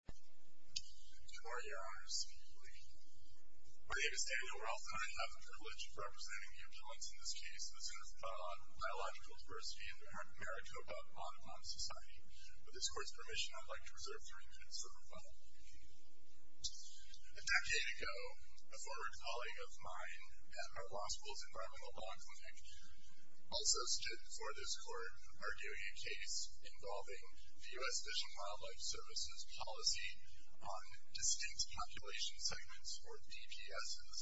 My name is Daniel Roth and I have the privilege of representing the objects in this case, the Center for Biological Diversity in the American Maricopa Audubon Society. With this court's permission, I would like to reserve three minutes for rebuttal. A decade ago, a former colleague of mine at our law school's Environmental Law Clinic also stood before this court arguing a case involving the U.S. Fish and Wildlife Service's policy on distinct population segments, or DPSs,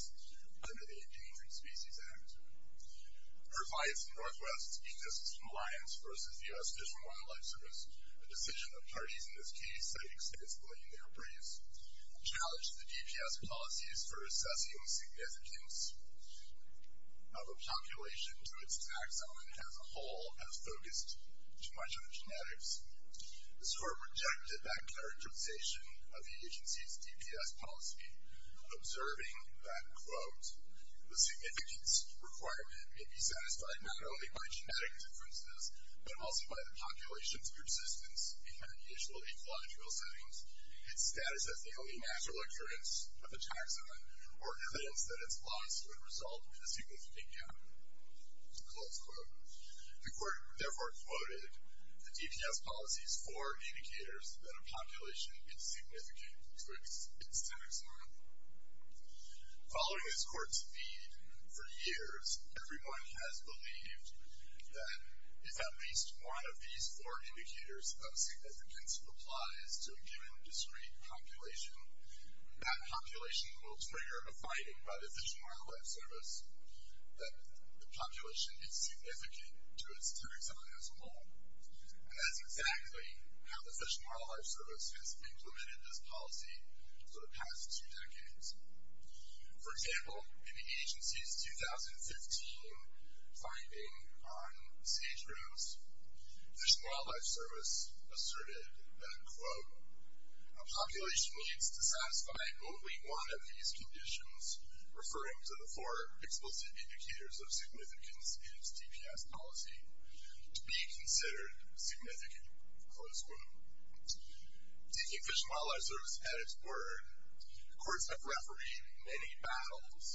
under the Endangered Species Act. Her bias in the Northwest exists from Lyons v. the U.S. Fish and Wildlife Service, a decision of parties in this case that extends between their briefs. The court challenged the DPS policies for assessing the significance of a population to its taxon as a whole as focused too much on genetics. The court rejected that characterization of the agency's DPS policy, observing that, quote, the significance requirement may be satisfied not only by genetic differences, but also by the population's persistence in initial ecological settings. Its status as the only natural occurrence of a taxon, or evidence that its loss would result in a significant gap, close quote. The court therefore quoted the DPS policies for indicators that a population is significant to its taxon. Following this court's lead for years, everyone has believed that if at least one of these four indicators of significance applies to a given discrete population, that population will trigger a finding by the Fish and Wildlife Service that the population is significant to its taxon as a whole. And that's exactly how the Fish and Wildlife Service has implemented this policy for the past two decades. For example, in the agency's 2015 finding on sage-rooms, Fish and Wildlife Service asserted that, quote, a population needs to satisfy only one of these conditions, referring to the four explicit indicators of significance in its DPS policy, to be considered significant, close quote. Taking Fish and Wildlife Service at its word, the courts have refereed many battles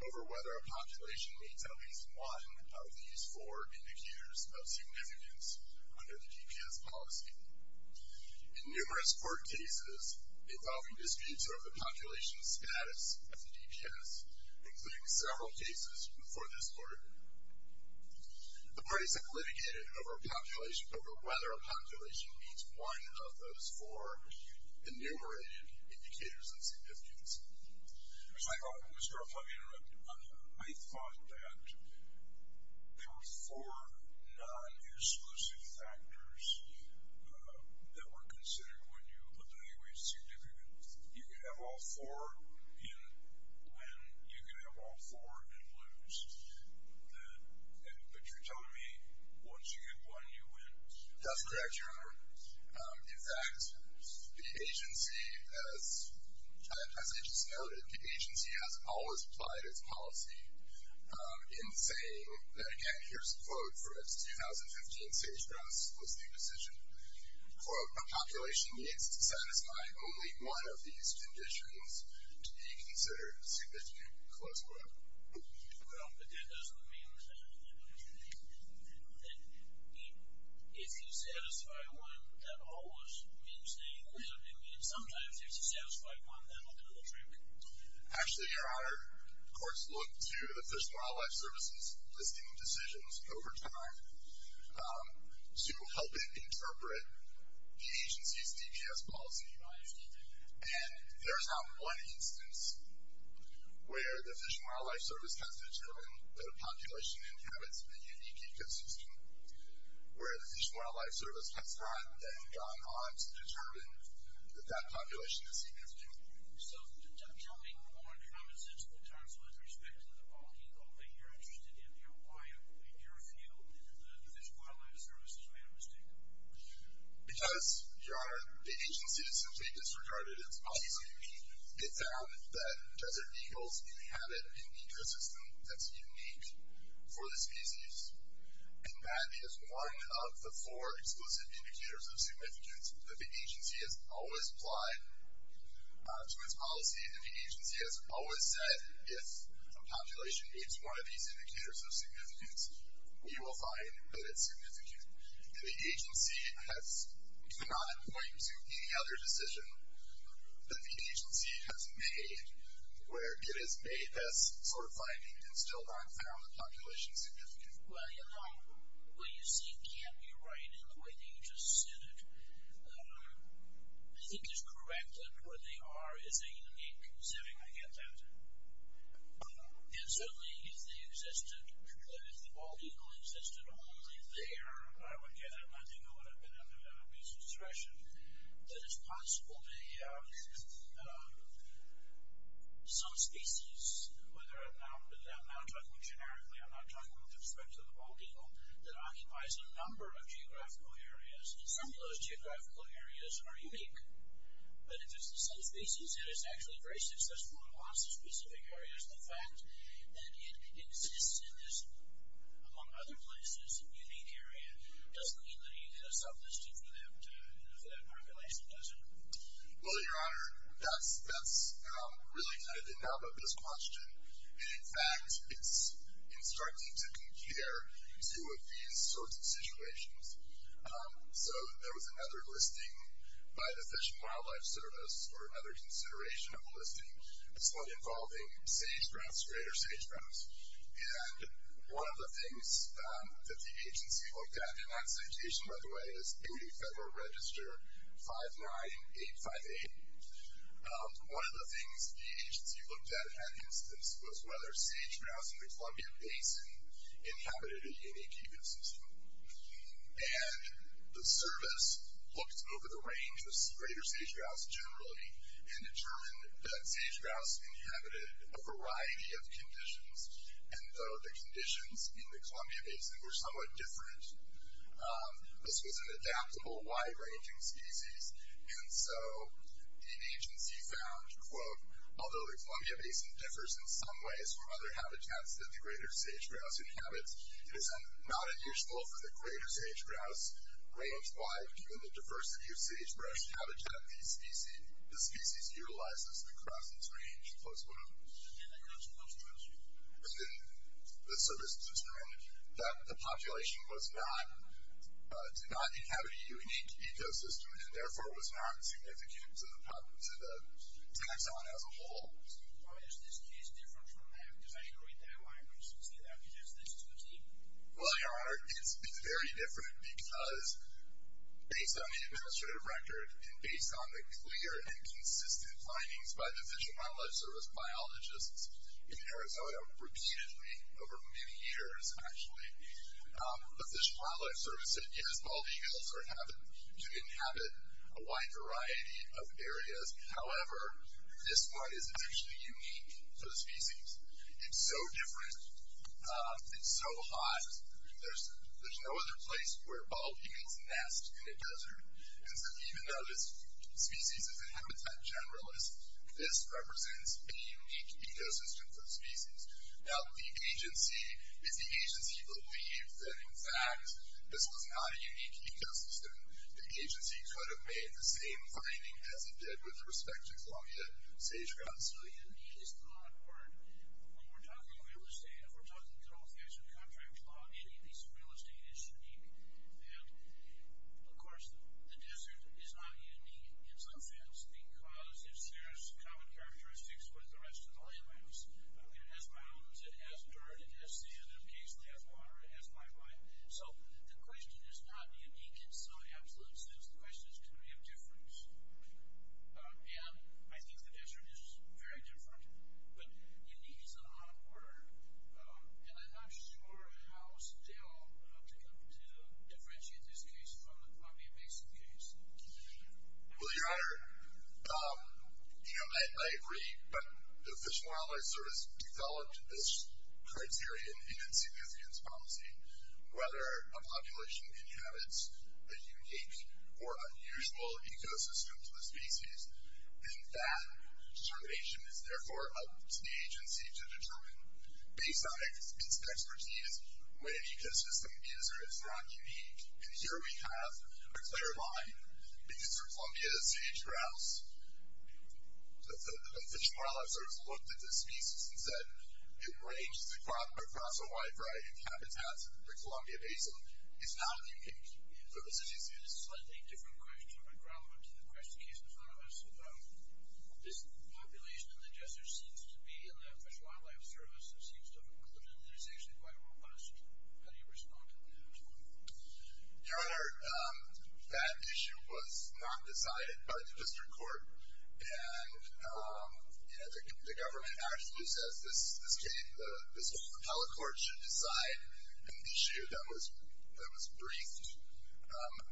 over whether a population needs at least one of these four indicators of significance under the DPS policy. In numerous court cases involving disputes over the population status of the DPS, including several cases before this court, the parties have litigated over whether a population needs one of those four enumerated indicators of significance. So I thought, Mr. Ruff, let me interrupt you. I thought that there were four non-exclusive factors that were considered when you looked at any way significant. You could have all four in win, you could have all four in lose. But you're telling me once you get one, you win? That's correct, Your Honor. In fact, the agency, as I just noted, the agency has always applied its policy in saying that, again, here's the quote for its 2015 sage-rooms explicit decision. Quote, a population needs to satisfy only one of these conditions to be considered significant, close quote. Well, but that doesn't mean, as I said, it doesn't mean that if you satisfy one, that always means that you deserve to win. Sometimes if you satisfy one, that's a little trick. Actually, Your Honor, courts look to the Fish and Wildlife Service's listing of decisions over time to help it interpret the agency's DPS policy. And there's not one instance where the Fish and Wildlife Service has determined that a population inhabits a unique ecosystem, where the Fish and Wildlife Service has gone on to determine that that population is significant. So tell me more in common sense terms with respect to the policy, though, that you're interested in. Why in your field in the Fish and Wildlife Service, is that a mistake? Because, Your Honor, the agency simply disregarded its policy. It found that desert eagles inhabit an ecosystem that's unique for the species, and that is one of the four explicit indicators of significance that the agency has always applied to its policy. And the agency has always said, if a population meets one of these indicators of significance, you will find that it's significant. And the agency has not appointed to any other decision that the agency has made where it has made this sort of finding and still not found the population significant. Well, Your Honor, what you see can't be right in the way that you just said it. I think it's correct that where they are is a unique setting. I get that. And certainly, if the bald eagle existed only there, I would get it. And I think it would have been a misconstruction that it's possible that some species, whether I'm now talking generically, I'm not talking with respect to the bald eagle, that occupies a number of geographical areas, and some of those geographical areas are unique. But if it's the same species, it is actually very successful in lots of specific areas. The fact that it exists in this, among other places, unique area, doesn't mean that it's a sublisting for that population, does it? Well, Your Honor, that's really kind of the nub of this question. In fact, it's instructing to compare two of these sorts of situations. So there was another listing by the Fish and Wildlife Service or another consideration of a listing, this one involving sage-grouse, greater sage-grouse. And one of the things that the agency looked at in that citation, by the way, is AOD Federal Register 59858. One of the things the agency looked at, in that instance, was whether sage-grouse in the Columbia Basin inhabited a unique ecosystem. And the service looked over the range of greater sage-grouse generally and determined that sage-grouse inhabited a variety of conditions, and though the conditions in the Columbia Basin were somewhat different, this was an adaptable, wide-ranging species. And so the agency found, quote, although the Columbia Basin differs in some ways from other habitats that the greater sage-grouse inhabits, it is not unusual for the greater sage-grouse, range-wide in the diversity of sage-grouse habitat, the species utilizes the crossings range close by. And the service determined that the population did not inhabit a unique ecosystem and, therefore, was not significant to the taxon as a whole. Why is this case different from that? Because I agree with that. Why would you say that? Because this is the same. Well, Your Honor, it's very different because, based on the administrative record and based on the clear and consistent findings by the Fish and Wildlife Service biologists in Arizona, repeatedly over many years, actually, the Fish and Wildlife Service said, yes, bald eagles are habit to inhabit a wide variety of areas. However, this one is essentially unique for the species. It's so different. It's so hot. There's no other place where bald eagles nest in a desert. And so even though this species is a habitat generalist, this represents a unique ecosystem for the species. Now, the agency, if the agency believed that, in fact, this was not a unique ecosystem, the agency could have made the same finding as it did with respect to Columbia sage-grouse. So unique is not a word. When we're talking real estate, if we're talking total fashion contract law, any piece of real estate is unique. And, of course, the desert is not unique in some sense because it shares common characteristics with the rest of the landmass. It has mounds. It has dirt. It has sand. It occasionally has water. It has pipeline. So the question is not unique in some absolute sense. The question is, can we have difference? And I think the desert is very different. But unique is not a word. And I'm not sure how still to differentiate this case from the Columbia basin case. Well, Your Honor, you know, I agree. But the Fish and Wildlife Service developed this criteria, whether a population inhabits a unique or unusual ecosystem to a species. And that determination is, therefore, up to the agency to determine, based on its expertise, whether the ecosystem is or is not unique. And here we have a clear line. Because for Columbia sage-grouse, the Fish and Wildlife Service looked at the species and said it ranges across a wide variety of habitats, and the Columbia basin is not unique for the species. This is a slightly different question from the ground up to the question case in front of us. This population in the desert seems to be in the Fish and Wildlife Service, it seems to have an inclination that it's actually quite robust. How do you respond to that? Your Honor, that issue was not decided by the district court. And, you know, the government actually says this case, this whole appellate court should decide an issue that was briefed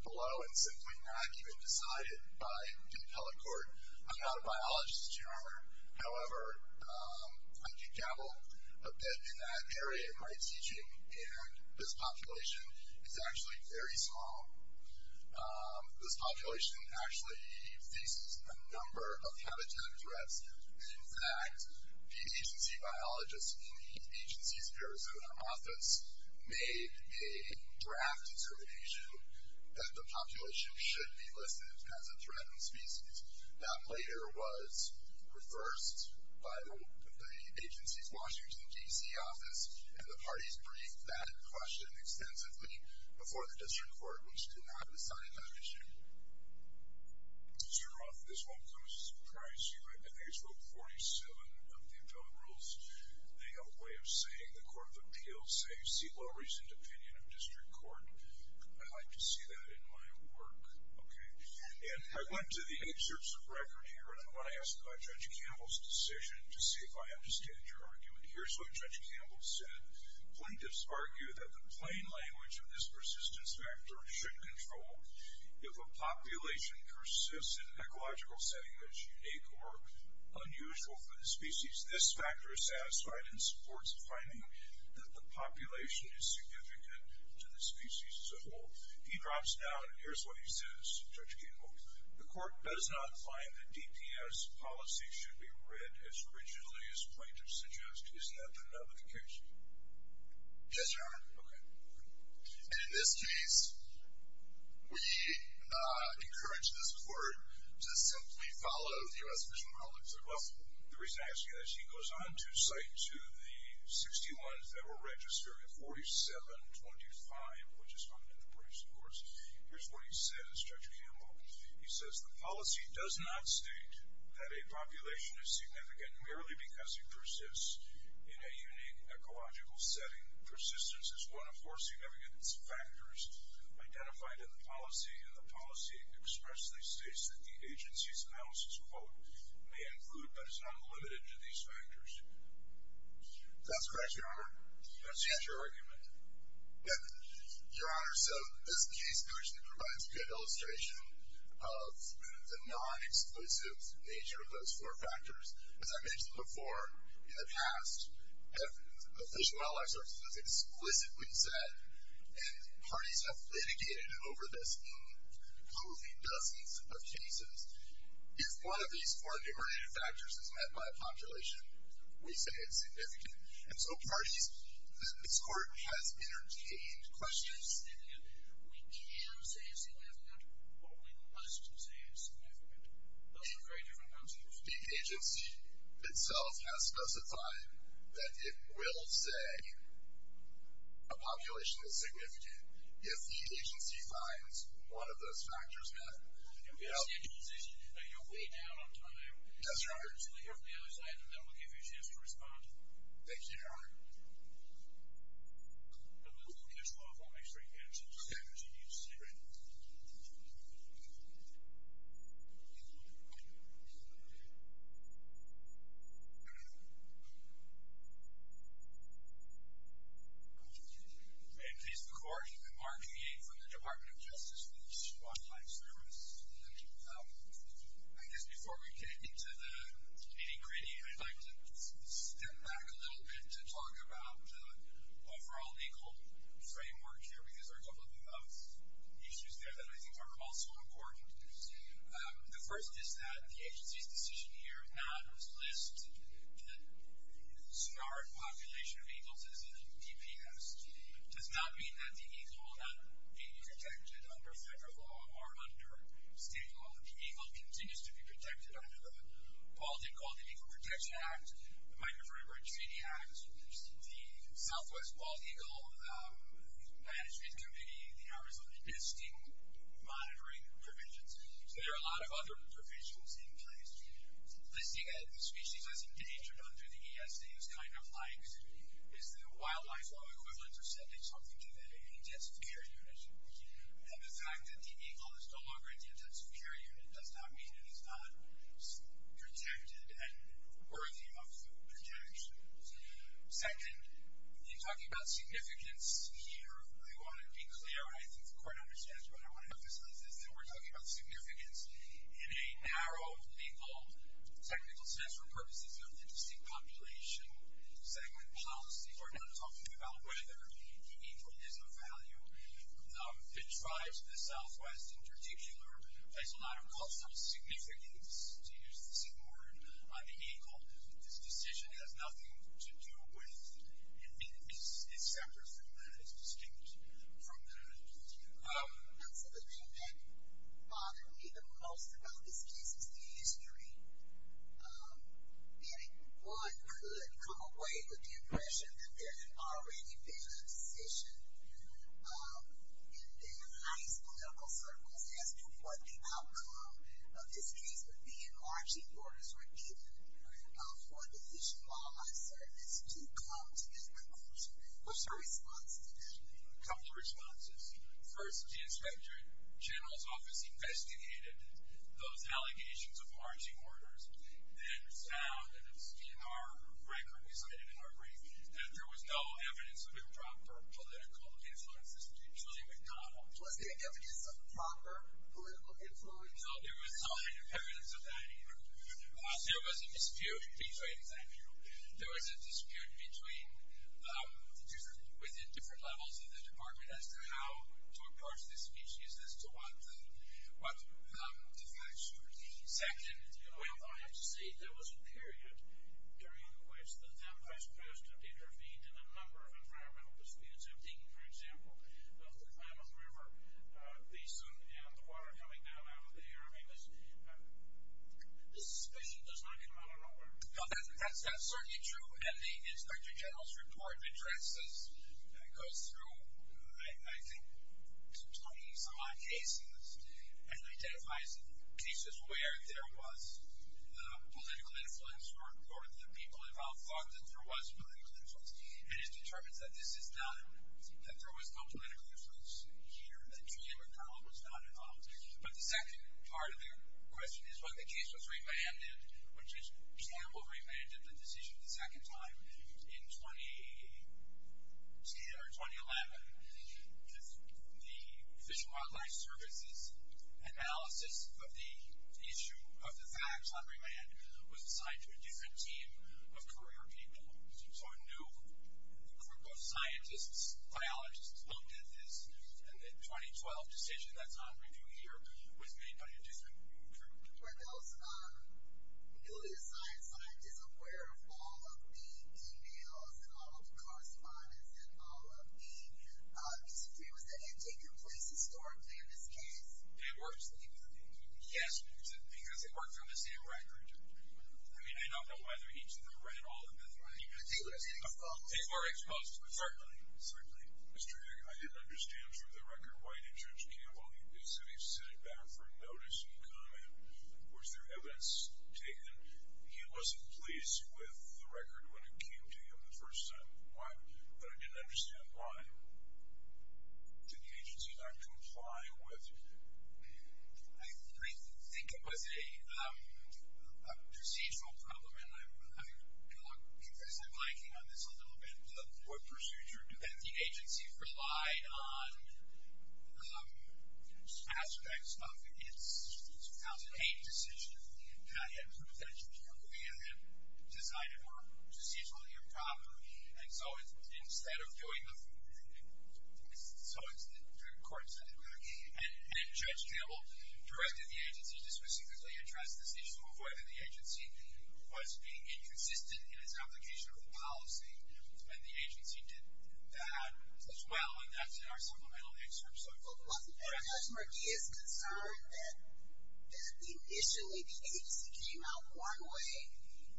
below and simply not even decided by the appellate court. I'm not a biologist, Your Honor. However, I do dabble a bit in that area in my teaching, and this population is actually very small. This population actually faces a number of habitat threats. In fact, the agency biologist in the agency's Arizona office made a draft determination that the population should be listed as a threatened species. That later was reversed by the agency's Washington, D.C. office, and the parties briefed that question extensively before the district court, which did not decide that issue. Mr. Roth, this won't come as a surprise to you. I think it's Rope 47 of the appellate rules. They have a way of saying, the Court of Appeals say, see low-reasoned opinion of district court. I like to see that in my work. Okay. And I went to the excerpts of record here, and I want to ask Judge Campbell's decision to see if I understand your argument here. Here's what Judge Campbell said. Plaintiffs argue that the plain language of this persistence factor should control if a population persists in an ecological setting that's unique or unusual for the species. This factor is satisfied and supports finding that the population is significant to the species as a whole. He drops down. Here's what he says, Judge Campbell. The court does not find that DPS policy should be read as rigidly as plaintiffs suggest. Isn't that the nullification? Yes, Your Honor. Okay. And in this case, we encourage this court to simply follow the U.S. Fish and Wildlife Service. Well, the reason I ask you that is he goes on to cite to the 61 that were registered, 4725, which is on enterprise scores. Here's what he says, Judge Campbell. He says the policy does not state that a population is significant merely because it persists in a unique ecological setting. Persistence is one of four significance factors identified in the policy, and the policy expressly states that the agency's analysis, quote, may include but is not limited to these factors. That's correct, Your Honor. Let's see. That's your argument. Yes. Your Honor, so this case actually provides a good illustration of the non-exclusive nature of those four factors. As I mentioned before, in the past, the Fish and Wildlife Service has explicitly said, and parties have litigated over this in probably dozens of cases, if one of these four numerator factors is met by a population, we say it's significant. And so parties, this court has entertained questions. We can say it's significant, or we must say it's significant. Those are very different concepts. The agency itself has specified that it will say a population is significant if the agency finds one of those factors met. You're way down on time. Yes, Your Honor. We'll hear from the other side, and then we'll give you a chance to respond. Thank you, Your Honor. I'm going to take this phone off while I make sure you answer this. Okay. Because you need to see it right now. May it please the Court, I'm Mark Hayden from the Department of Justice with the Fish and Wildlife Service. I guess before we get into the meeting greeting, I'd like to step back a little bit to talk about the overall legal framework here, because there are a couple of issues there that I think are also important. The first is that the agency's decision here not to list the Sonoran population of eagle citizens as DPS does not mean that the eagle will not be protected under federal law or under state law. The eagle continues to be protected under the Baldwin-Gauldin Eagle Protection Act, the Migrant River and Treaty Act, the Southwest Bald Eagle Management Committee, the Arizona Listing Monitoring Provisions. So there are a lot of other provisions in place. Listing the species as endangered under the ESA is kind of like is the wildlife law equivalent of sending something to the intensive care unit. And the fact that the eagle is no longer in the intensive care unit does not mean it is not protected and worthy of protection. Second, in talking about significance here, I want to be clear, and I think the Court understands what I want to emphasize, is that we're talking about significance in a narrow legal technical sense for purposes of the distinct population segment policies. We're not talking about whether the eagle is of value. It tries the Southwest in particular, but it's not of cultural significance to use the single word on the eagle. This decision has nothing to do with it. It's separate from that. It's distinct from that. And so the thing that bothered me the most about this case is the history. And one could come away with the impression that there had already been a decision in the highest political circles as to what the outcome of this case would be if orangey borders were given for the issue of wildlife service to come to its conclusion. What's your response to that? A couple of responses. First, the inspector general's office investigated those allegations of orangey borders and found, and it's in our record we cited in our brief, that there was no evidence of improper political influences between Julian McDonnell Was there evidence of proper political influence? No, there was no evidence of that either. There was a dispute between, thank you, there was a dispute within different levels of the department as to how to approach this species, as to what the facts should be. Second, Well, I have to say there was a period during which the Democrats proposed to intervene in a number of environmental disputes. I'm thinking, for example, of the Klamath River basin and the water coming down out of there. I mean, the suspicion does not come out of nowhere. No, that's certainly true. And the inspector general's report addresses, goes through, I think, 20 some odd cases and identifies cases where there was political influence or the people involved thought that there was political influence. And it determines that this is not, that there was no political influence here, that Julian McDonnell was not involved. But the second part of your question is when the case was remanded, which is, for example, remanded the decision a second time in 2011 with the Fish and Wildlife Service's analysis of the issue of the facts on remand was assigned to a different team of career people. So a new group of scientists, biologists, looked at this, and the 2012 decision that's on review here was made by a different group. Were those newly assigned scientists aware of all of the emails and all of the correspondence and all of the extremists that had taken place historically in this case? It works. Yes, because it works on the same record. I mean, I don't know whether each of them read all of them. They were exposed. They were exposed, certainly. Certainly. Mr. Hick, I didn't understand for the record why the judge can't vote. He said he sent it back for notice and comment. Was there evidence taken? He wasn't pleased with the record when it came to him the first time. Why? But I didn't understand why. Did the agency not comply with it? I think it was a procedural problem, and I'm going to look implicitly blanking on this a little bit. What procedure? The agency relied on aspects of its 2008 decision, and I have proof that Julia had designed it more procedurally and properly. And so instead of doing nothing, the court decided to do nothing. And Judge Campbell directed the agency to specifically address this issue of whether the agency was being inconsistent in its application of the policy and the agency did that as well. And that's in our supplemental excerpt. Well, Judge Murphy is concerned that initially the agency came out one way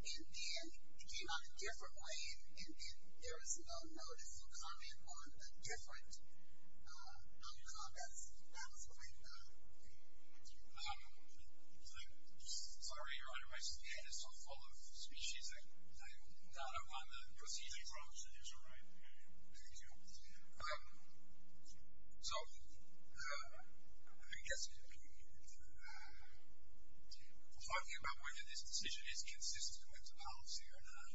and then it came out a different way and then there was no notice or comment on a different outcome. That was what I thought. Sorry, Your Honor, my skin is so full of species, I'm not on the procedural approach that you're describing. Thank you. So I've been talking about whether this decision is consistent with the policy or not.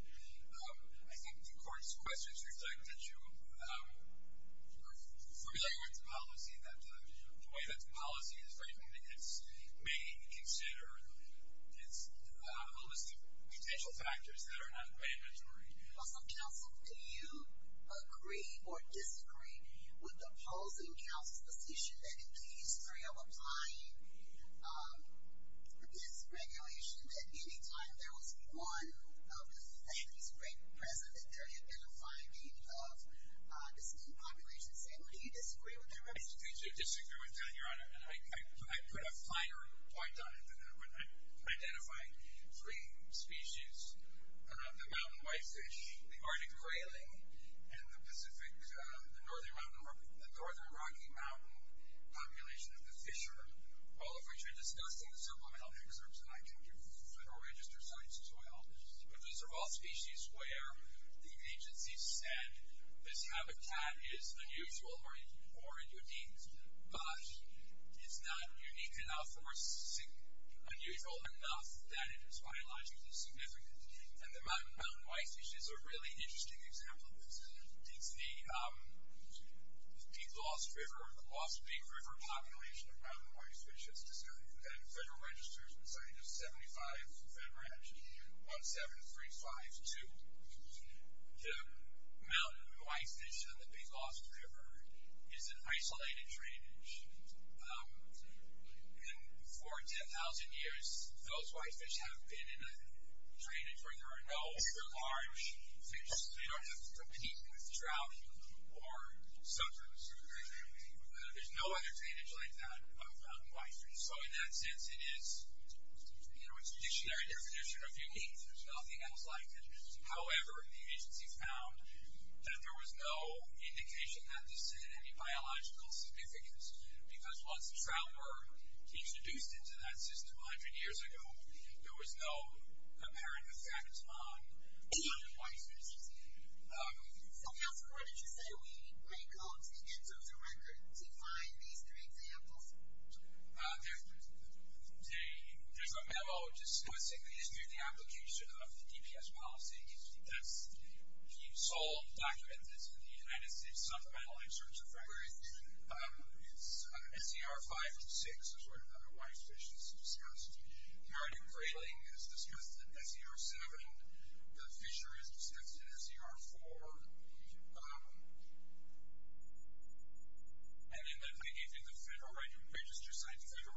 I think the court's questions reflect that you are familiar with the policy and that the way that the policy is written, it may consider its holistic potential factors that are not mandatory. Counsel, do you agree or disagree with the opposing counsel's position that in the history of applying this regulation that any time there was one of the families present that there had been a finding of the same population? Do you disagree with that? I do disagree with that, Your Honor, and I put a finer point on it than that when I'm identifying three species, the mountain whitefish, the Arctic grayling, and the northern Rocky Mountain population of the fisher, all of which I discussed in the supplemental excerpts and I can give federal register sites as well. But those are all species where the agency said this habitat is unusual or endangered, but it's not unique enough or unusual enough that it is biologically significant. And the mountain whitefish is a really interesting example of this. It's the lost big river population of mountain whitefish, and federal registers would say there's 75, 17352. The mountain whitefish on the Big Lost River is an isolated drainage. And for 10,000 years, those whitefish have been in a drainage where there are no bigger, large fish. They don't have to compete with drought or sometimes there's no other drainage like that of mountain whitefish. And so in that sense, it is a traditionary definition of unique. There's nothing else like it. However, the agency found that there was no indication that this had any biological significance because once the trout were introduced into that system 100 years ago, there was no apparent effect on mountain whitefish. So, Pastor, what did you say we may call to the ends of the record to find these three examples? There's a memo discussing the history of the application of the DPS policy. That's the sole document that's in the United States Supplemental Inserts of Records. It's SCR 5 and 6 is where the whitefish is discussed. The Meridian Grayling is discussed in SCR 7. The Fisher is discussed in SCR 4. And then the Federal Register Sites are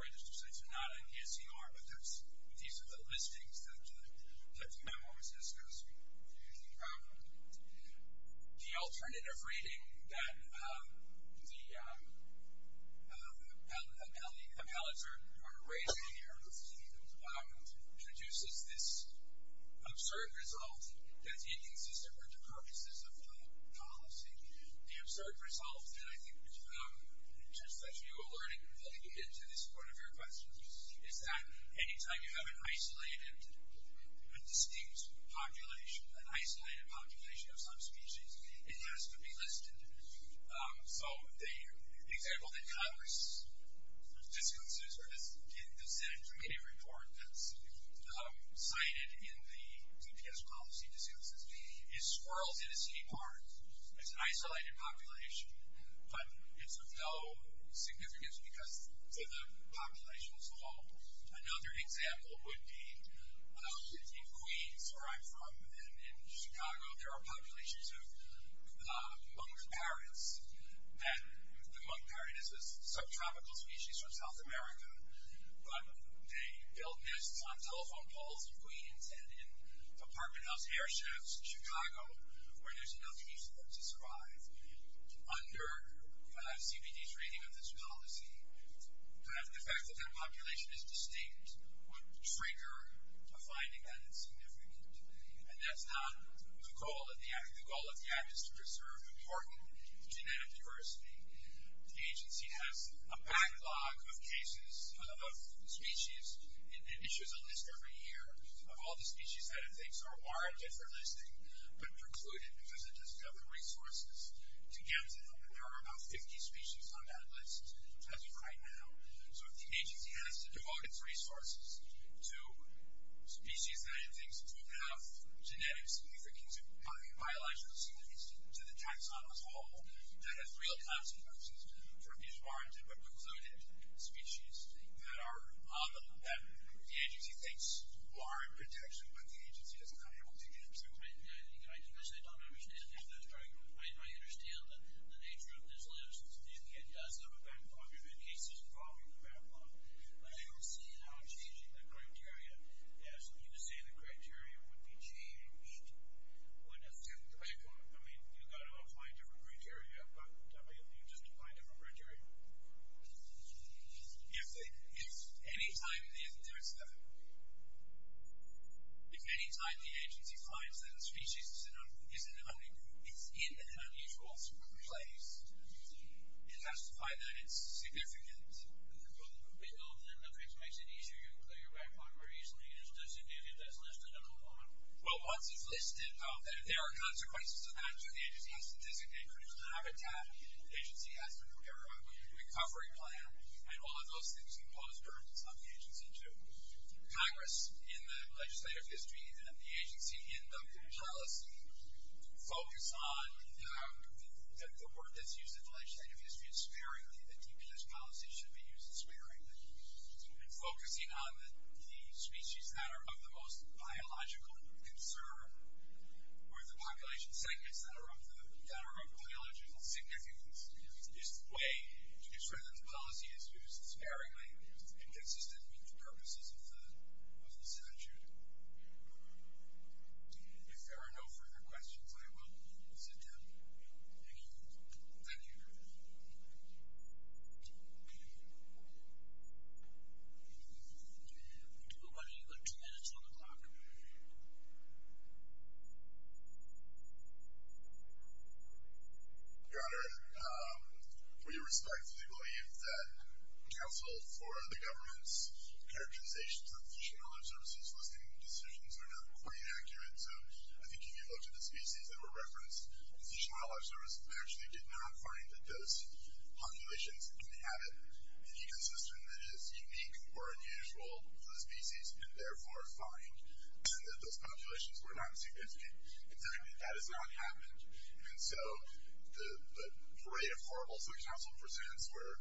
not in the SCR, but these are the listings that the memo is discussing. The alternative rating that the appellates are raising here introduces this absurd result that the inconsistent were the purposes of the policy. The absurd result, and I think just that you alerted completely to this point of your question, is that any time you have an isolated, a distinct population, an isolated population of some species, it has to be listed. So the example that Congress discusses in the Senate Committee Report that's cited in the DPS policy discusses is squirrels in a seaport. It's an isolated population, but it's of no significance to the population as a whole. Another example would be in Queens, where I'm from, and in Chicago there are populations of monk parrots, and the monk parrot is a subtropical species from South America, but they build nests on telephone poles in Queens and in apartment house airships in Chicago where there's nothing useful to describe. Under CBD's rating of this policy, the fact that that population is distinct would trigger a finding that it's significant, and that's not the goal of the app. The goal of the app is to preserve important genetic diversity. The agency has a backlog of cases of species and issues a list every year of all the species that it thinks are warranted for listing, but precluded because it doesn't have the resources to get to them, and there are about 50 species on that list as of right now. So if the agency has to devote its resources to species that it thinks don't have genetic significance or biological significance to the taxon as a whole, that has real consequences for these warranted but precluded species that the agency thinks are in protection, but the agency is not able to get to. I understand the nature of this list. It does have a backlog of cases involving the backlog, but I don't see how changing the criteria, as you say the criteria would be changed, would affect the backlog. I mean, you've got to apply different criteria, but you just apply different criteria. If any time the agency finds that a species is in an unusual place, it has to find that it's significant. Well, then that makes it easier. You can clear your backlog more easily. It just doesn't do it. It doesn't list it at all. Well, once it's listed, there are consequences of that. So the agency has to designate who's going to have a tab. The agency has to prepare a recovery plan, and all of those things impose burdens on the agency, too. Congress, in the legislative history, and the agency in the policy, focus on the word that's used in the legislative history is sparingly. The DPS policy should be used sparingly. Focusing on the species that are of the most biological concern or the population segments that are of biological significance is the way to describe those policy issues sparingly, and consistent with the purposes of the statute. If there are no further questions, I will sit down. Thank you. Thank you. Why don't you go to ten minutes on the clock. Your Honor, we respectfully believe that counsel for the government's characterization of the Fish and Wildlife Service's listing decisions are not quite accurate. So I think if you looked at the species that were referenced, the Fish and Wildlife Service actually did not find that those populations inhabit an ecosystem that is unique or unusual to the species, and therefore find that those populations were not significant. In fact, that has not happened. And so the array of horribles that counsel presents where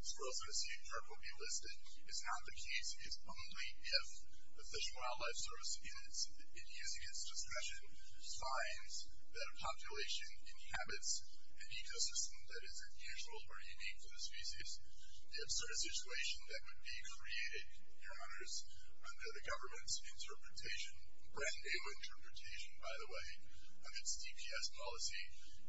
squirrels and a sea turtle be listed is not the case. It's only if the Fish and Wildlife Service, in using its discussion, finds that a population inhabits an ecosystem that is unusual or unique to the species. The absurd situation that would be created, Your Honors, under the government's interpretation, brand-new interpretation, by the way, of its DPS policy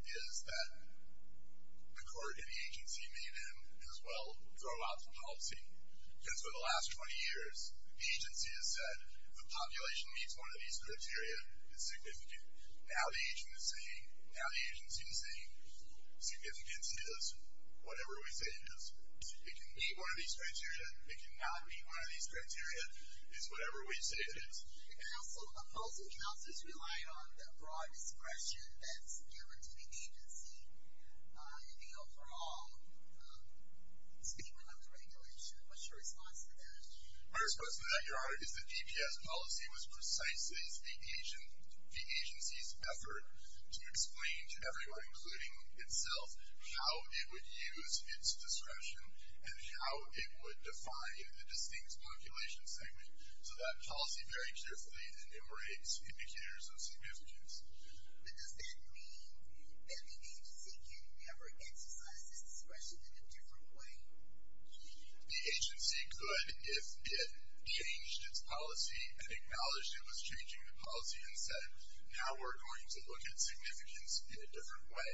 is that the court and the agency may then as well throw out the policy. Because for the last 20 years, the agency has said, if a population meets one of these criteria, it's significant. Now the agency is saying significance is whatever we say it is. It can meet one of these criteria. It cannot meet one of these criteria. It's whatever we say it is. Counsel, both of counsels rely on the broad discretion that's given to the agency in the overall statement of the regulation. What's your response to that? My response to that, Your Honor, is the DPS policy was precise as the agency's effort to explain to everyone, including itself, how it would use its discretion and how it would define a distinct population segment. So that policy very carefully enumerates indicators of significance. But does that mean that the agency can never exercise its discretion in a different way? The agency could if it changed its policy and acknowledged it was changing the policy and said, now we're going to look at significance in a different way.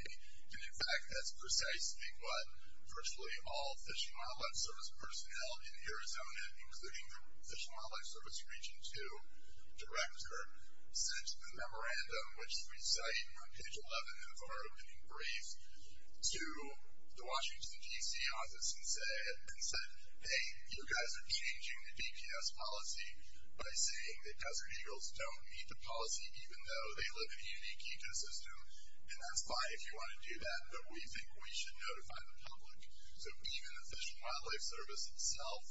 And, in fact, that's precisely what virtually all Fish and Wildlife Service personnel in Arizona, including the Fish and Wildlife Service Region 2 Director, sent a memorandum, which we cite on page 11 of our opening brief, to the Washington, D.C., office and said, hey, you guys are changing the DPS policy by saying that Desert Eagles don't need the policy even though they live in a unique ecosystem, and that's fine if you want to do that, but we think we should notify the public. So even the Fish and Wildlife Service itself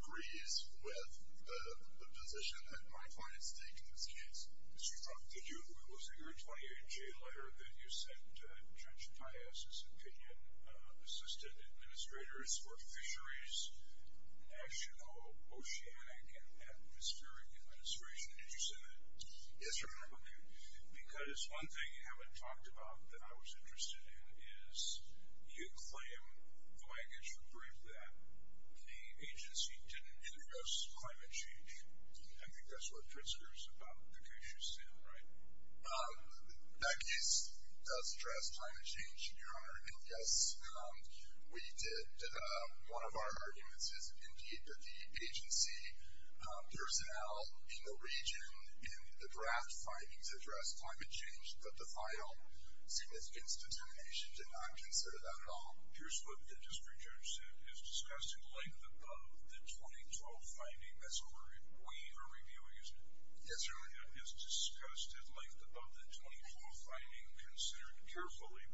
agrees with the position that my clients take in this case. Mr. Trump, it was in your 28-J letter that you sent Judge Paius's opinion. Assistant Administrators for Fisheries, National Oceanic and Atmospheric Administration. Did you say that? Yes, sir. Because one thing you haven't talked about that I was interested in is you claim the language of the brief that the agency didn't address climate change. I think that's what Pritzker is about, the case you sent, right? That case does address climate change, Your Honor, and, yes, we did. One of our arguments is, indeed, that the agency personnel in the region in the draft findings addressed climate change, but the final significance determination did not consider that at all. Here's what the District Judge said. It is discussed at length above the 2012 finding. That's correct. We are reviewing it. Yes, Your Honor. It is discussed at length above the 2012 finding, considering carefully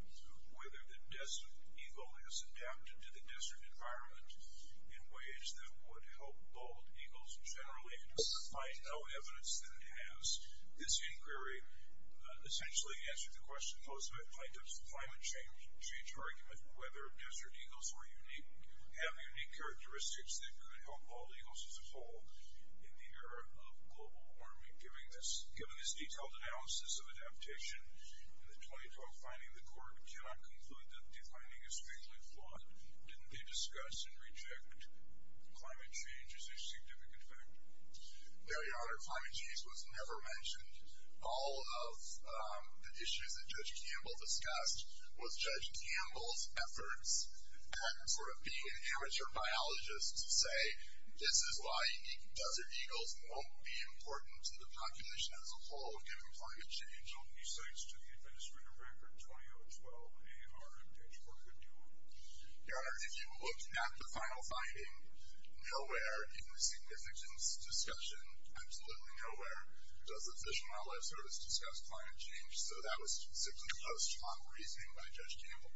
whether the Desert Eagle has adapted to the desert environment in ways that would help bald eagles generally, despite no evidence that it has. This inquiry essentially answered the question posed by Plaintiff's climate change argument, whether Desert Eagles have unique characteristics that could help bald eagles as a whole in the era of global warming. Given this detailed analysis of adaptation in the 2012 finding, the court cannot conclude that the finding is strangely flawed. Didn't they discuss and reject climate change as a significant factor? No, Your Honor, climate change was never mentioned. All of the issues that Judge Campbell discussed was Judge Campbell's efforts at sort of being an amateur biologist to say, this is why desert eagles won't be important to the population as a whole if given climate change. How many sites to the Adventist Reader Record in 2012 are potentially going to do it? Your Honor, if you look at the final finding, nowhere in the significance discussion, absolutely nowhere, does the Fish and Wildlife Service discuss climate change? So that was specifically posed to my own reasoning by Judge Campbell.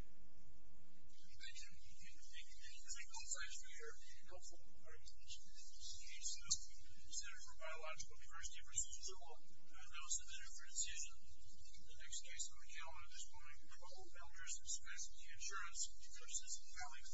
Thank you. Thank you. Thank you. Thank you. Those are all the questions we have. Are any helpful? Are any of these questions useful? In the case of the Center for Biological Diversity versus the Zoo, I know it's a different decision. The next case on the calendar this morning, we have all the founders of Svetsky Insurance versus Calix.